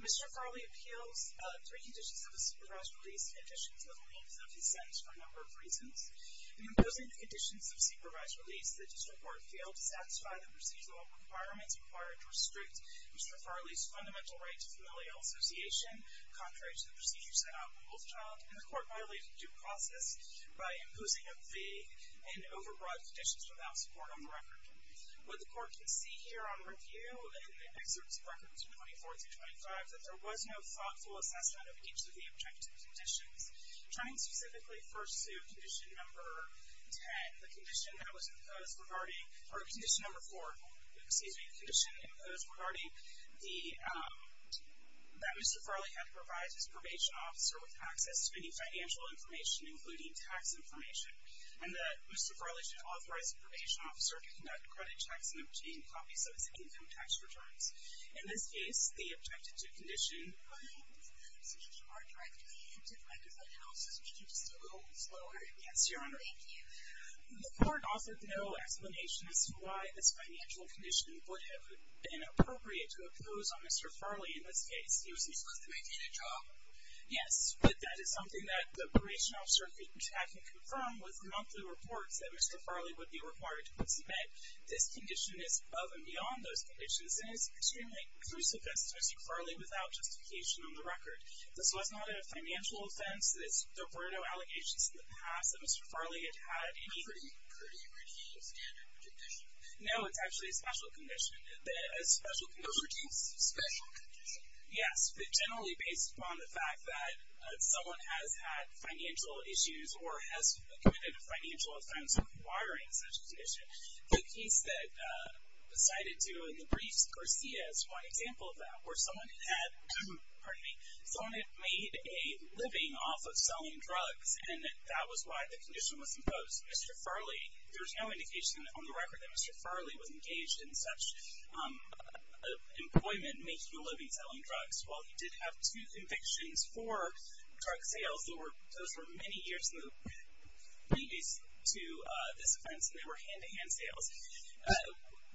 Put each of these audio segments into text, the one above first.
Mr. Farley appeals three conditions of a supervised release, in addition to the means of his sentence for a number of reasons. In imposing the conditions of a supervised release, the district court failed to satisfy the procedural requirements required to restrict Mr. Farley's fundamental right to familial association, contrary to the procedures set out in Wolfchild, and the court violated the due process by imposing a vague and over-the-top sentence on Mr. Farley. Mr. Farley did not provide petitions without support on the record. What the court can see here on review, in the excerpts of records 24-25, that there was no thoughtful assessment of each of the objective conditions. Turning specifically first to condition number 10, the condition that was imposed regarding, or condition number 4, excuse me, the condition imposed regarding the, um, that Mr. Farley had to provide his probation officer with access to any financial information, including tax information. And that Mr. Farley should authorize the probation officer to conduct credit checks and obtain copies of his income tax returns. In this case, the objective condition, um, speaking more directly to the plaintiff, I can also speak to you just a little slower. Yes, Your Honor. Thank you. The court offered no explanation as to why this financial condition would have been inappropriate to impose on Mr. Farley in this case. He was usually supposed to maintain a job. Yes, but that is something that the probation officer could check and confirm with monthly reports that Mr. Farley would be required to participate. This condition is above and beyond those conditions, and it's extremely crucifix to Mr. Farley without justification on the record. This was not a financial offense. There were no allegations in the past that Mr. Farley had had any... A pretty, pretty, pretty standard condition. No, it's actually a special condition. A special condition. A pretty special condition. Yes, but generally based upon the fact that someone has had financial issues or has committed a financial offense requiring such a condition. The case that, uh, decided to, in the briefs, Garcia is one example of that, where someone had, pardon me, someone had made a living off of selling drugs, and that was why the condition was imposed. Mr. Farley, there was no indication on the record that Mr. Farley was engaged in such, um, employment, making a living selling drugs. While he did have two convictions for drug sales, those were many years in the lease to this offense, and they were hand-to-hand sales.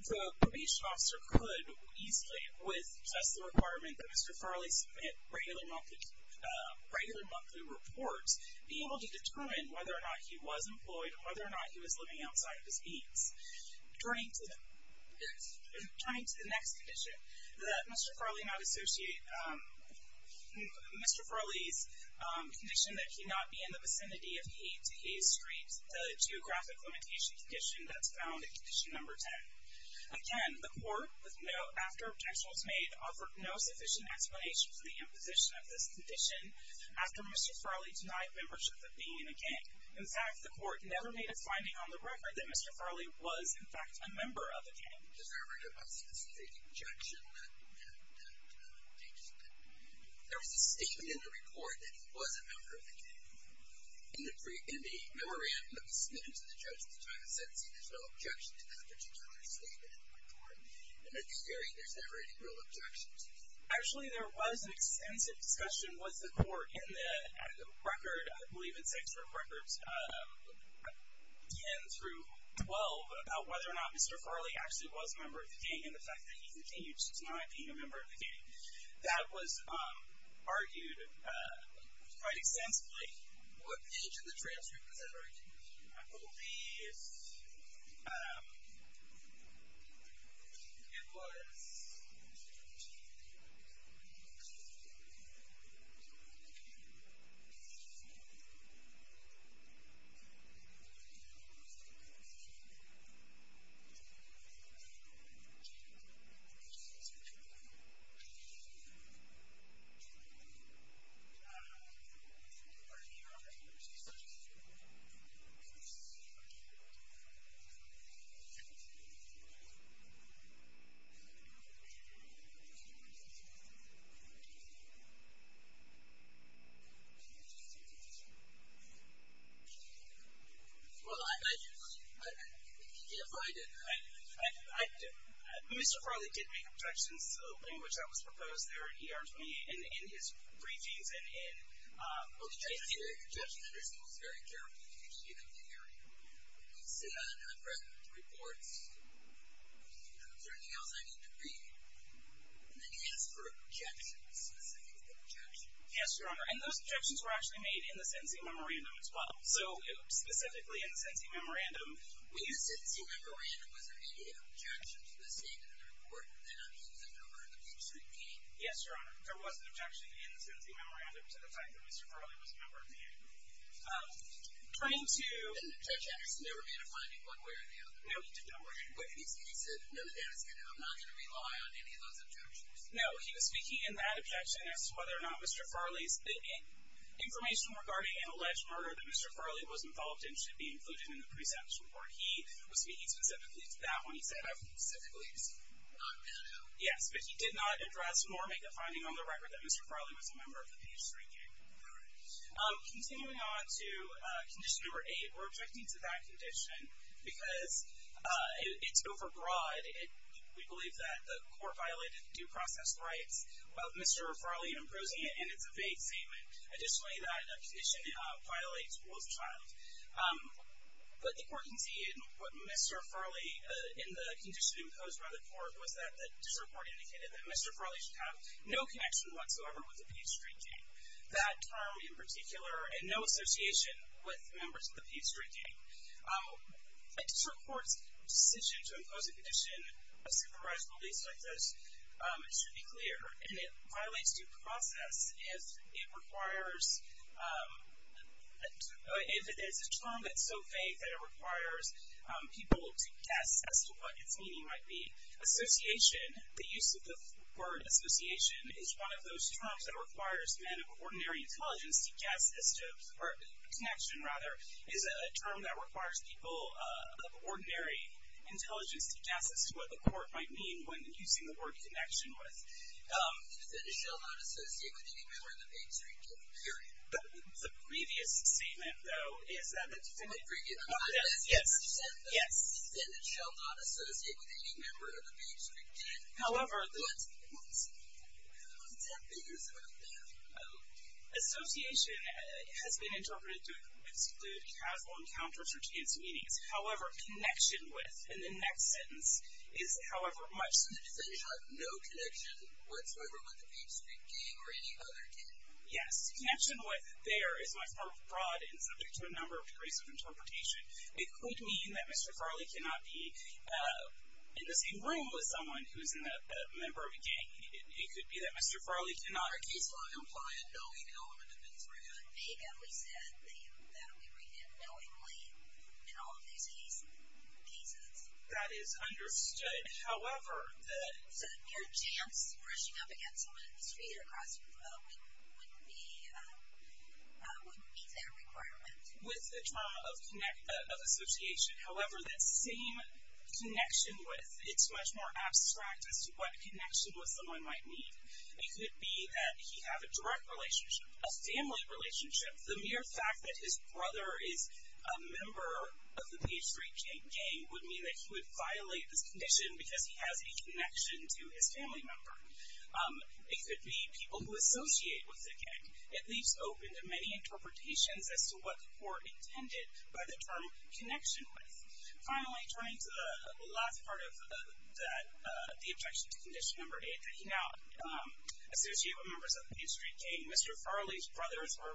The probation officer could easily, with just the requirement that Mr. Farley submit regular monthly reports, be able to determine whether or not he was employed and whether or not he was living outside of his means. Turning to the next condition, that Mr. Farley not associate, um, Mr. Farley's condition that he not be in the vicinity of E to E Street, the geographic limitation condition that's found in condition number 10. Again, the court, after objection was made, offered no sufficient explanation for the imposition of this condition after Mr. Farley denied membership of being in a gang. In fact, the court never made a finding on the record that Mr. Farley was, in fact, a member of a gang. There was a statement in the report that he was a member of a gang. In the memorandum that was submitted to the judge at the time of sentencing, there's no objection to that particular statement in the report, and it's very, there's never any real objections. Actually, there was an extensive discussion with the court in the record, I believe it's extra court records, um, 10 through 12, about whether or not Mr. Farley actually was a member of the gang and the fact that he continued to deny being a member of the gang. That was, um, argued quite extensively. What page of the transcript was that argued? I believe it's, um, it was, um, Well, I, I, if I didn't, I, I, I, Mr. Farley did make objections, which I was proposed there in ER 28, in, in his briefings, and in, um, Well, the judge did make objections, and he was very careful, because he didn't hear you. He said, in the present report, is there anything else I need to read? And then he asked for objections, specific objections. Yes, Your Honor. And those objections were actually made in the sentencing memorandum as well. So, specifically in the sentencing memorandum, In the sentencing memorandum, was there any objection to the statement in the report that he was a member of the gang? Yes, Your Honor. There was an objection in the sentencing memorandum to the fact that Mr. Farley was a member of the gang. Um, pointing to, The judge actually never made a finding one way or the other. No, he did not. But he said, he said, no, the judge said, I'm not going to rely on any of those objections. No, he was speaking in that objection as to whether or not Mr. Farley's, the information regarding an alleged murder that Mr. Farley was involved in should be included in the precepts report. He was speaking specifically to that when he said, I was speaking specifically to Mr. Farley. Yes, but he did not address nor make a finding on the record that Mr. Farley was a member of the PS3 gang. All right. Continuing on to condition number eight, we're objecting to that condition because it's overbroad. We believe that the court violated due process rights of Mr. Farley in opposing it, and it's a vague statement. Additionally, that condition violates rule of child. But the court can see in what Mr. Farley, in the condition imposed by the court, was that the district court indicated that Mr. Farley should have no connection whatsoever with the PS3 gang. That term in particular, and no association with members of the PS3 gang. A district court's decision to impose a condition of supervised police like this should be clear. And it violates due process if it's a term that's so vague that it requires people to guess as to what its meaning might be. Association, the use of the word association, is one of those terms that requires men of ordinary intelligence to guess as to, or connection rather, is a term that requires people of ordinary intelligence to guess as to what the court might mean when using the word connection with. The defendant shall not associate with any member of the PS3 gang, period. The previous statement, though, is that the defendant. Yes. Yes. The defendant shall not associate with any member of the PS3 gang. However, the association has been interpreted to include casual encounters or chance meetings. However, connection with, in the next sentence, is however much. So the defendant shall have no connection whatsoever with the PS3 gang or any other gang. Yes. Connection with there is much more broad and subject to a number of degrees of interpretation. It could mean that Mr. Farley cannot be in the same room with someone who is a member of a gang. It could be that Mr. Farley cannot. Our case will imply a knowing element of this ruling. Vaguely said that we read it knowingly in all of these cases. That is understood. However. Your chance of rushing up against someone in the street or across the road wouldn't be their requirement. With the trauma of association. However, that same connection with, it's much more abstract as to what connection with someone might mean. It could be that he has a direct relationship, a family relationship. The mere fact that his brother is a member of the PS3 gang would mean that he would violate this condition because he has a connection to his family member. It could be people who associate with the gang. It leaves open to many interpretations as to what the court intended by the term connection with. Finally, turning to the last part of that, the objection to condition number eight, that he now associated with members of the PS3 gang. Mr. Farley's brothers were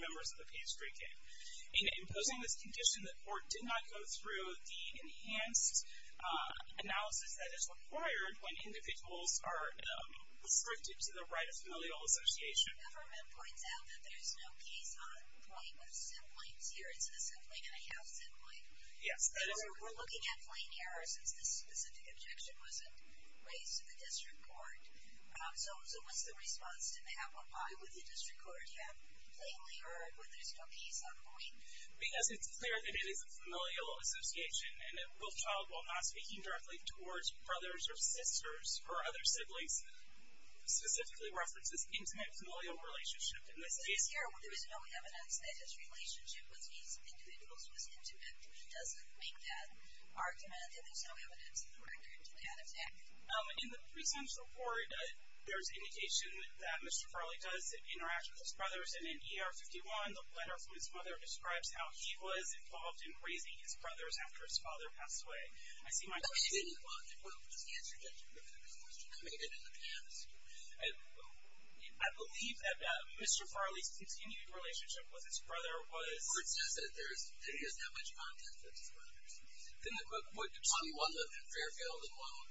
members of the PS3 gang. In imposing this condition, the court did not go through the enhanced analysis that is required when individuals are restricted to the right of familial association. The government points out that there's no case on point with siblings here. It's a sibling and a half sibling. Yes. We're looking at plain error since this specific objection wasn't raised to the district court. So what's the response to that? Why would the district court have plainly erred with there's no case on point? Because it's clear that it is a familial association and that both child, while not speaking directly towards brothers or sisters or other siblings, specifically references intimate familial relationship. In this case here, there is no evidence that his relationship with these individuals was intimate. It doesn't make that argument that there's no evidence in the record to that effect. In the precinct report, there's indication that Mr. Farley does interact with his brothers. And in ER 51, the letter from his mother describes how he was involved in raising his brothers after his father passed away. I see my question. I believe that Mr. Farley's continued relationship with his brother was. Well, it's just that there's, he doesn't have much contact with his brothers. On the one hand, Fairfield alone,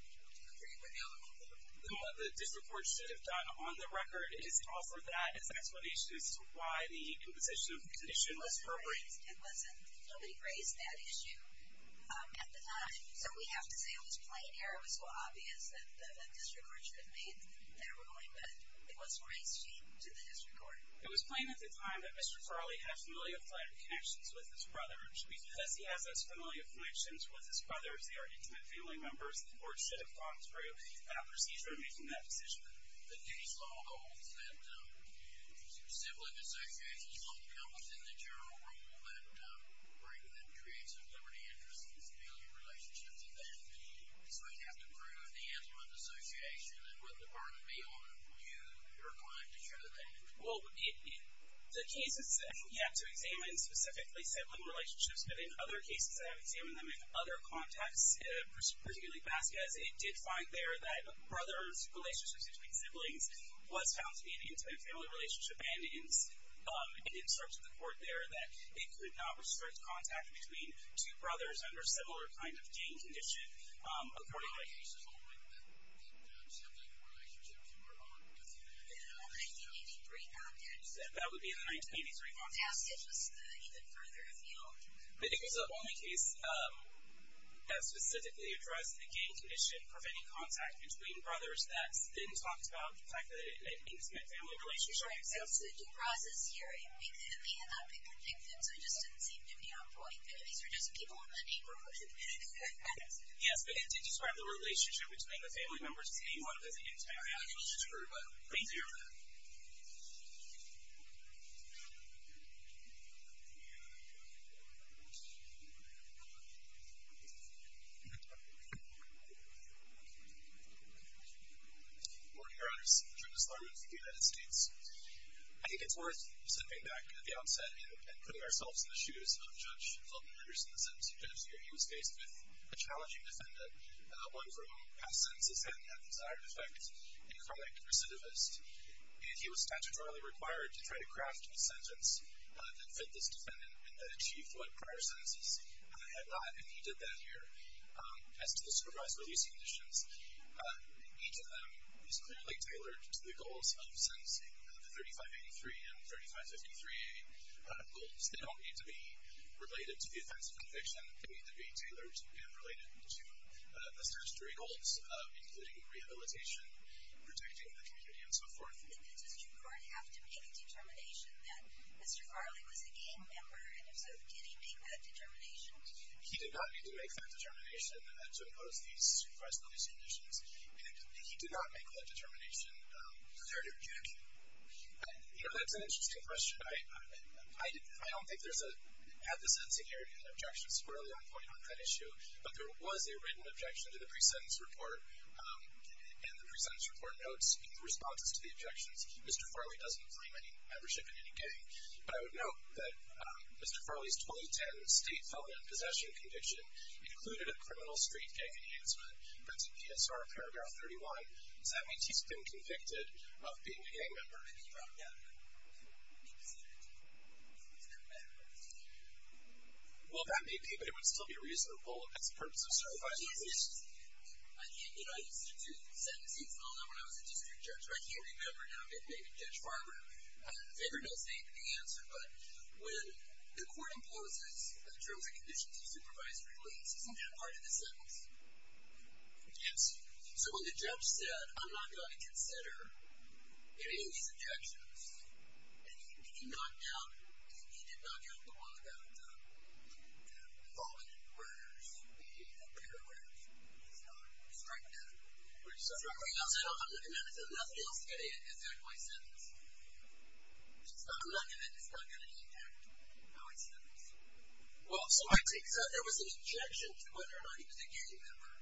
the district court should have done on the record is to offer that as an explanation as to why the composition of the issue was appropriate. It wasn't. Nobody raised that issue at the time. So we have to say it was plain error. It was so obvious that the district court should have made their ruling, but it wasn't raised to the district court. It was plain at the time that Mr. Farley had familial connections with his brothers. They are intimate family members. The court should have gone through that procedure in making that decision. The case law holds that sibling associations don't count within the general rule that creates a liberty interest and civility relationship to them. So we'd have to prove the anthem of association and what the burden may be on you and your client to show that. Well, the cases that we have to examine specifically sibling relationships, in other cases I have examined them in other contexts, particularly Vasquez, it did find there that brothers' relationships between siblings was found to be an intimate family relationship and it instructs the court there that it could not restrict contact between two brothers under similar kind of gang condition according to the case law. The case is only in the sibling relationship. You are arguing with the 1983 context. That would be in the 1983 context. Vasquez was even further afield. It was the only case that specifically addressed the gang condition, preventing contact between brothers, that didn't talk about the fact that it was an intimate family relationship. That's the due process here. It may have not been predicted. So it just didn't seem to be on point. Maybe these were just people in the neighborhood. Yes, but it did describe the relationship between the family members as being one of those intimate relationships. Thank you very much. Thank you. Good morning, Your Honors. Judas Larmon from the United States. I think it's worth stepping back at the outset and putting ourselves in the shoes of Judge Feldman Reuters in the sentence he just gave. He was faced with a challenging defendant, one for whom past sentences have had the desired effect, a chronic recidivist. And he was statutorily required to try to craft a sentence that fit this defendant and that achieved what prior sentences had not. And he did that here. As to the supervised release conditions, each of them is clearly tailored to the goals of sentencing, the 3583 and 3553A goals. They don't need to be related to the offense of conviction. They need to be tailored and related to the statutory goals of including rehabilitation, protecting the community, and so forth. Did the district court have to make a determination that Mr. Farley was a game member? And if so, did he make that determination? He did not need to make that determination to impose these supervised release conditions. And he did not make that determination there to reject him. You know, that's an interesting question. I don't think there's a, had the sentencing area had an objection squarely on point on that issue, but there was a written objection to the pre-sentence report. And the pre-sentence report notes in the responses to the objections, Mr. Farley doesn't claim any membership in any gang. But I would note that Mr. Farley's 2010 state felon in possession conviction included a criminal street gang enhancement. That's in PSR paragraph 31. Does that mean he's been convicted of being a gang member? Yeah. Well, that may be, but it would still be a reasonable purpose of certifying. I used to do sentencing. I don't know when I was a district judge, but I can't remember now. Maybe Judge Farber figured out the answer. But when the court imposes the terms and conditions of supervised release, isn't that part of the sentence? Yes. So when the judge said, I'm not going to consider any of these objections, and he did not count the one about the involvement in murders, the paragraphs. He struck that. I'm looking at it. I said, nothing else is going to affect my sentence. I'm not going to. It's not going to impact how I sentence. Well, so there was an objection to whether or not he was a gang member.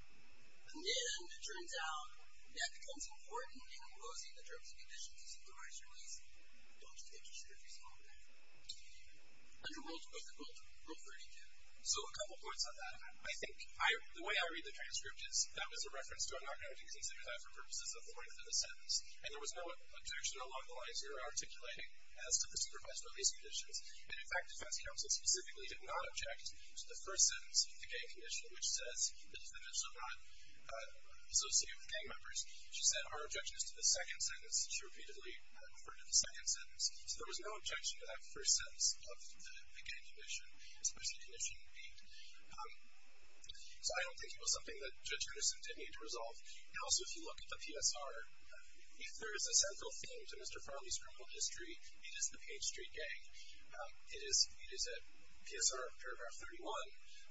And then it turns out that the consent court, when you're imposing the terms and conditions of supervised release, you don't take the transcripts off of that. Under what rule? Rule 32. So a couple points on that. I think the way I read the transcript is that was a reference to, I'm not going to consider that for purposes of the length of the sentence. And there was no objection along the lines you're articulating as to the supervised release conditions. And, in fact, defense counsel specifically did not object to the first sentence of the gang condition, which says that it's not associated with gang members. She said, our objection is to the second sentence. And she repeatedly referred to the second sentence. So there was no objection to that first sentence of the gang condition, especially conditioning the deed. So I don't think it was something that Judge Anderson did need to resolve. Now, also, if you look at the PSR, there is a central theme to Mr. Farley's criminal history. It is the Page Street Gang. It is at PSR paragraph 31,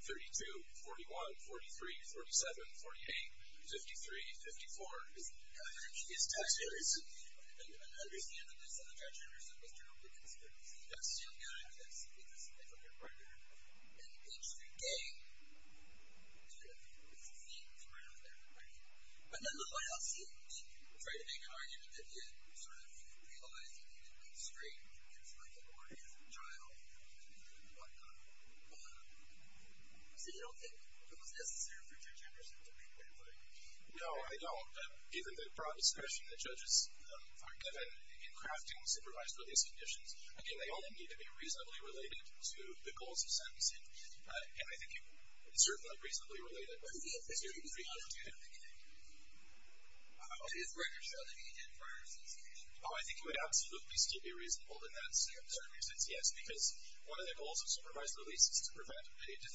32, 41, 43, 47, 48, 53, 54, which is a previous text. And I understand that Judge Anderson was terribly concerned. He's a young guy. He's a senior from here. And the Page Street Gang is a theme that's right out there. But then, look what else he did. He tried to make an argument that he had sort of realized that he didn't need a string. It's like a warning to the child and whatnot. So you don't think it was necessary for Judge Anderson to make that claim? No, I don't. Even the broad discretion that judges are given in crafting supervised release conditions, again, they only need to be reasonably related to the goals of sentencing. And I think it's certainly not reasonably related. But it's very difficult to do that. Is record selling needed prior to sentencing? Oh, I think it would absolutely still be reasonable in that circumstance, yes, because one of the goals of supervised release is to prevent a criminal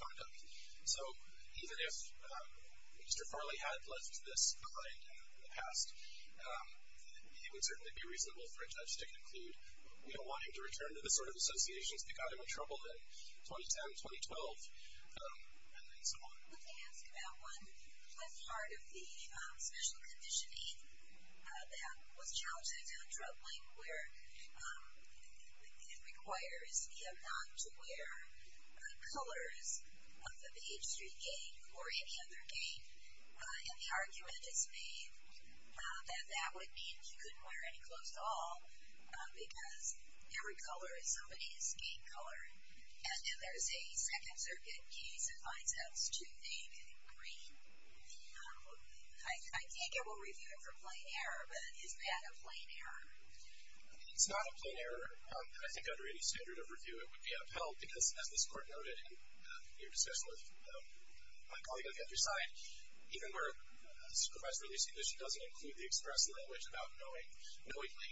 conduct. So even if Mr. Farley had left this claim in the past, it would certainly be reasonable for a judge to conclude, you know, wanting to return to the sort of associations that got him in trouble in 2010, 2012, and so on. Let me ask about one part of the special conditioning that was mentioned, which is the fact that if the defendant is wearing the same colors of the Page Street gang or any other gang, and the argument is made that that would mean he couldn't wear any clothes at all because every color is somebody's gang color, and then there's a Second Circuit case that finds him to be in green. I think it will review it for plain error, but is that a plain error? It's not a plain error. I think under any standard of review it would be upheld because, as this Court noted in your discussion with my colleague on the other side, even where a supervised release condition doesn't include the express language about knowingly,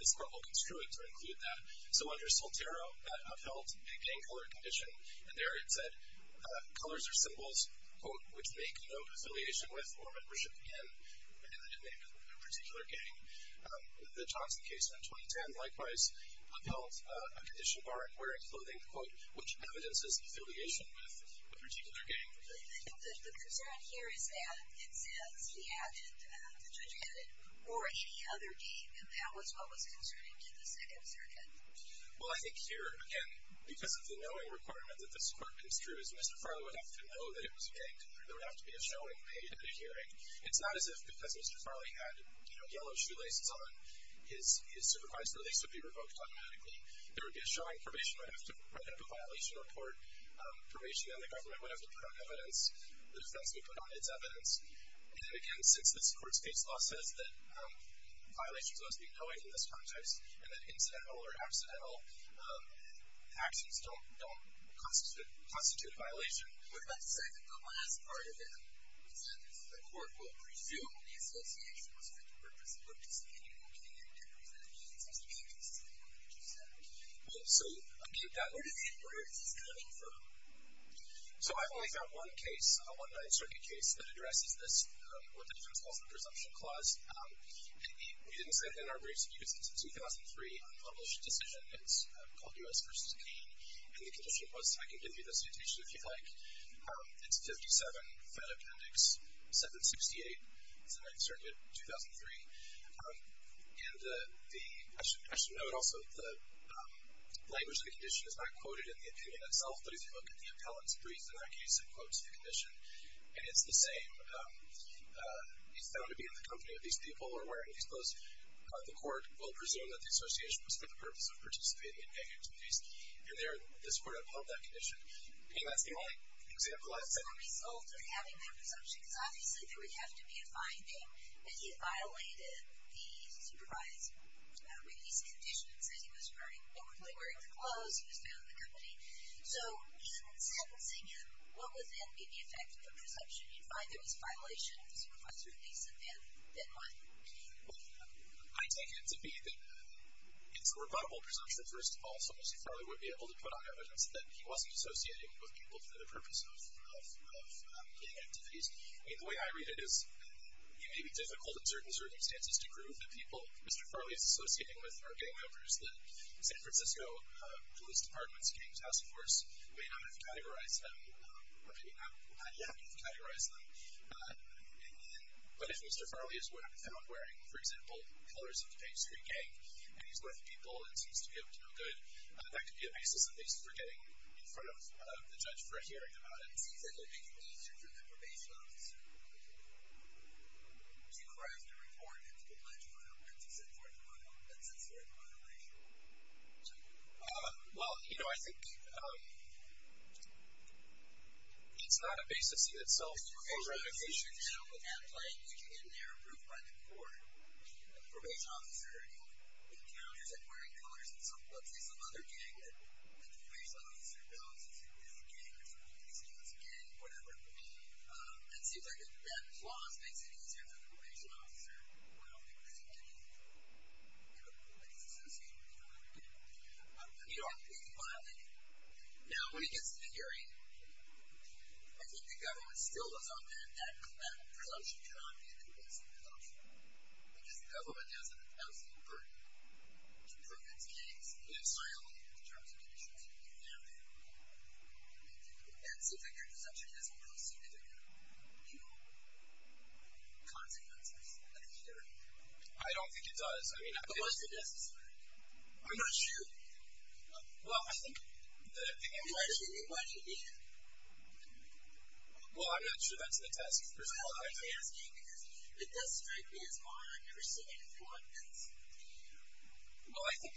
this Court will construe it to include that. So under Soltero, that upheld a gang color condition, and there it said, colors are symbols, quote, which make no affiliation with or membership in a particular gang. The Johnson case in 2010, likewise, upheld a condition barring wearing clothing, quote, which evidences affiliation with a particular gang. But the concern here is that it says he added, the judge added, or any other gang, and that was what was concerning to the Second Circuit. Well, I think here, again, because of the knowing requirement that this Court construes, Mr. Farley would have to know that it was a gang color. There would have to be a showing, a hearing. It's not as if because Mr. Farley had yellow shoelaces on, his supervised release would be revoked automatically. There would be a showing. Probation would have to write up a violation report. Probation and the government would have to put on evidence. The defense would put on its evidence. And then, again, since this Court's case law says that violations must be knowing in this context, and that incidental or accidental actions don't constitute a violation. What about the second to last part of it? It said that the Court will presume the association was for the purpose of indicating a gang and their presumption. It seems to be a case of presumption. Where is this coming from? So I've only found one case, one Ninth Circuit case, that addresses this, what the defense calls the presumption clause. And we didn't say it in our briefs, but you can see it's a 2003 unpublished decision. It's called U.S. v. Kane. And the condition was, I can give you the citation if you'd like. It's 57, fed appendix 768. It's a Ninth Circuit 2003. And I should note also that the language of the condition is not quoted in the opinion itself. But if you look at the appellant's briefs in that case, it quotes the condition. And it's the same. He's found to be in the company of these people or wearing these clothes. The Court will presume that the association was for the purpose of participating in gang activities. And there, this Court upheld that condition. I mean, that's the only example I've seen. What was the result of having that presumption? Because obviously there would have to be a finding that he had violated the supervisor's release conditions, that he was wearing the clothes, he was found in the company. So even in sentencing him, what would then be the effect of the presumption? You'd find there was violation of the supervisor's release, and then what? Well, I take it to be that it's a rebuttable presumption, first of all, so most probably we'd be able to put on evidence that he wasn't associating with people for the purpose of gang activities. I mean, the way I read it is it may be difficult in certain circumstances to prove that people Mr. Farley is associating with are gang members that San Francisco Police Department's gang task force may not have categorized them, or may not have categorized them. But if Mr. Farley is what I've found wearing, for example, colors of a street gang, and he's with people and seems to be able to do Well, you know, I think it's not a base to see itself. Now, with that claim, you can get in there and prove by the court that the probation officer encounters him wearing colors of, let's say, some other gang that the probation officer knows is a gang, or San Francisco is a gang, whatever. And it seems like that clause makes it easier for the probation officer to point out that he wasn't any, you know, police associated with the gang. You don't have to be violent. Now, when it gets to the hearing, I think the government still does often that presumption cannot be a complacent presumption, because the government has an absolute burden to prove it's a gang. It's violent in terms of conditions that you can handle. And so if a hearing is actually doesn't really seem to have, you know, consequences, I think you'd better be careful. I don't think it does. I mean, I think it's necessary. I'm not sure. Well, I think that I think. Well, I'm not sure that's the task. Well, I'm asking because it does strike me as hard. I've never seen it before. Well, I think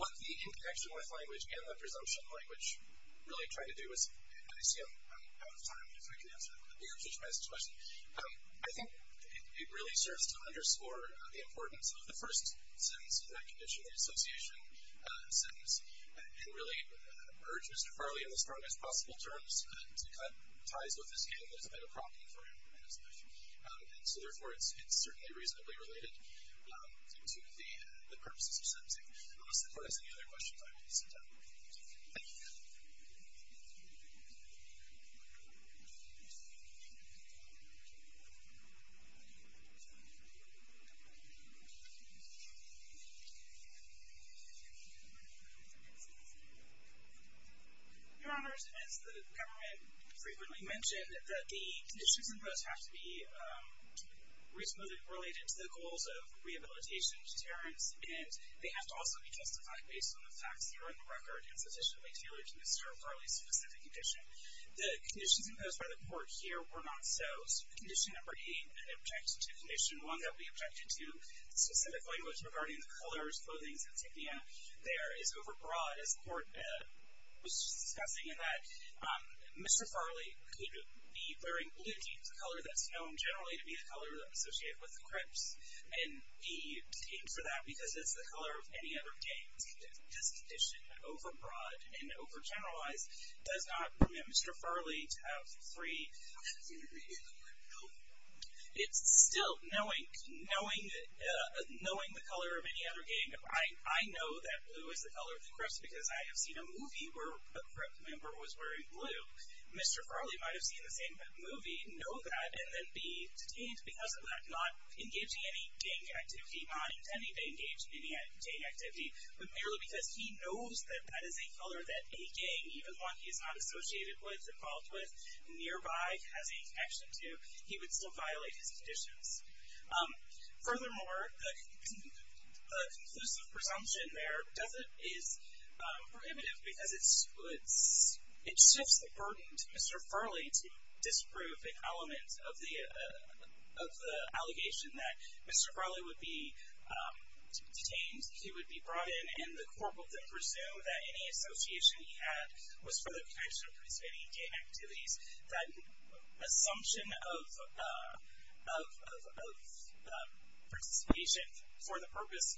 what the interconnection with language and the presumption language really try to do is, and I see I'm out of time. If I can answer the message question. I think it really serves to underscore the importance of the first sentence of that condition, the association sentence, and really urge Mr. Farley, in the strongest possible terms, to cut ties with his gang that has been a problem for him in his life. And so, therefore, it's certainly reasonably related to the purposes of sentencing. Unless the court has any other questions, I will sit down. Thank you. Thank you. Your Honor, as the government frequently mentioned, that the conditions imposed have to be reasonably related to the goals of rehabilitation deterrence, and they have to also be justified based on the facts that are on the record and sufficiently tailored to Mr. Farley's specific condition. The conditions imposed by the court here were not so. Condition number eight, an objective condition, one that we objected to in specific language regarding the colors, clothing, and so forth, there is overbroad, as the court was discussing, in that Mr. Farley could be wearing blue jeans, a color that's known generally to be the color associated with the Crips, and be detained for that because it's the color of any other gang. This condition, overbroad and overgeneralized, does not permit Mr. Farley to have free options in the game of the Crips. It's still knowing the color of any other gang. I know that blue is the color of the Crips because I have seen a movie where a Crip member was wearing blue. Mr. Farley might have seen the same movie, know that, and then be detained because of that, not engaging in any gang activity, not intending to engage in any gang activity, but merely because he knows that that is a color that a gang, even one he's not associated with, involved with, nearby, has a connection to, he would still violate his conditions. Furthermore, the conclusive presumption there is prohibitive because it shifts the burden to Mr. Farley to disprove an element of the allegation that Mr. Farley would be detained, he would be brought in, and the court would then presume that any association he had was for the protection of participating in gang activities. That assumption of participation for the purpose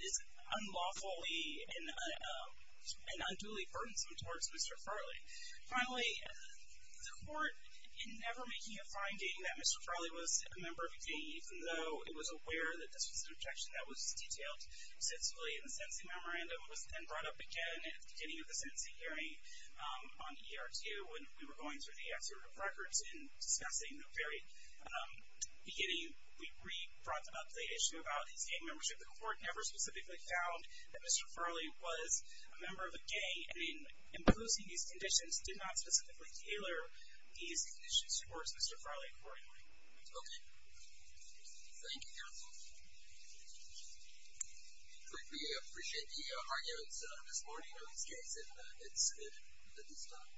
is unlawfully and unduly burdensome towards Mr. Farley. Finally, the court, in never making a finding that Mr. Farley was a member of a gang, even though it was aware that this was an objection that was detailed extensively in the sentencing memorandum and was then brought up again at the beginning of the sentencing hearing on ER-2 when we were going through the excerpt of records and discussing the very beginning, we brought up the issue about his gang membership. The court never specifically found that Mr. Farley was a member of a gang, and in imposing these conditions, did not specifically tailor these conditions towards Mr. Farley accordingly. Okay. Thank you, counsel. We appreciate the hard notes this morning, and it's good that he's gone.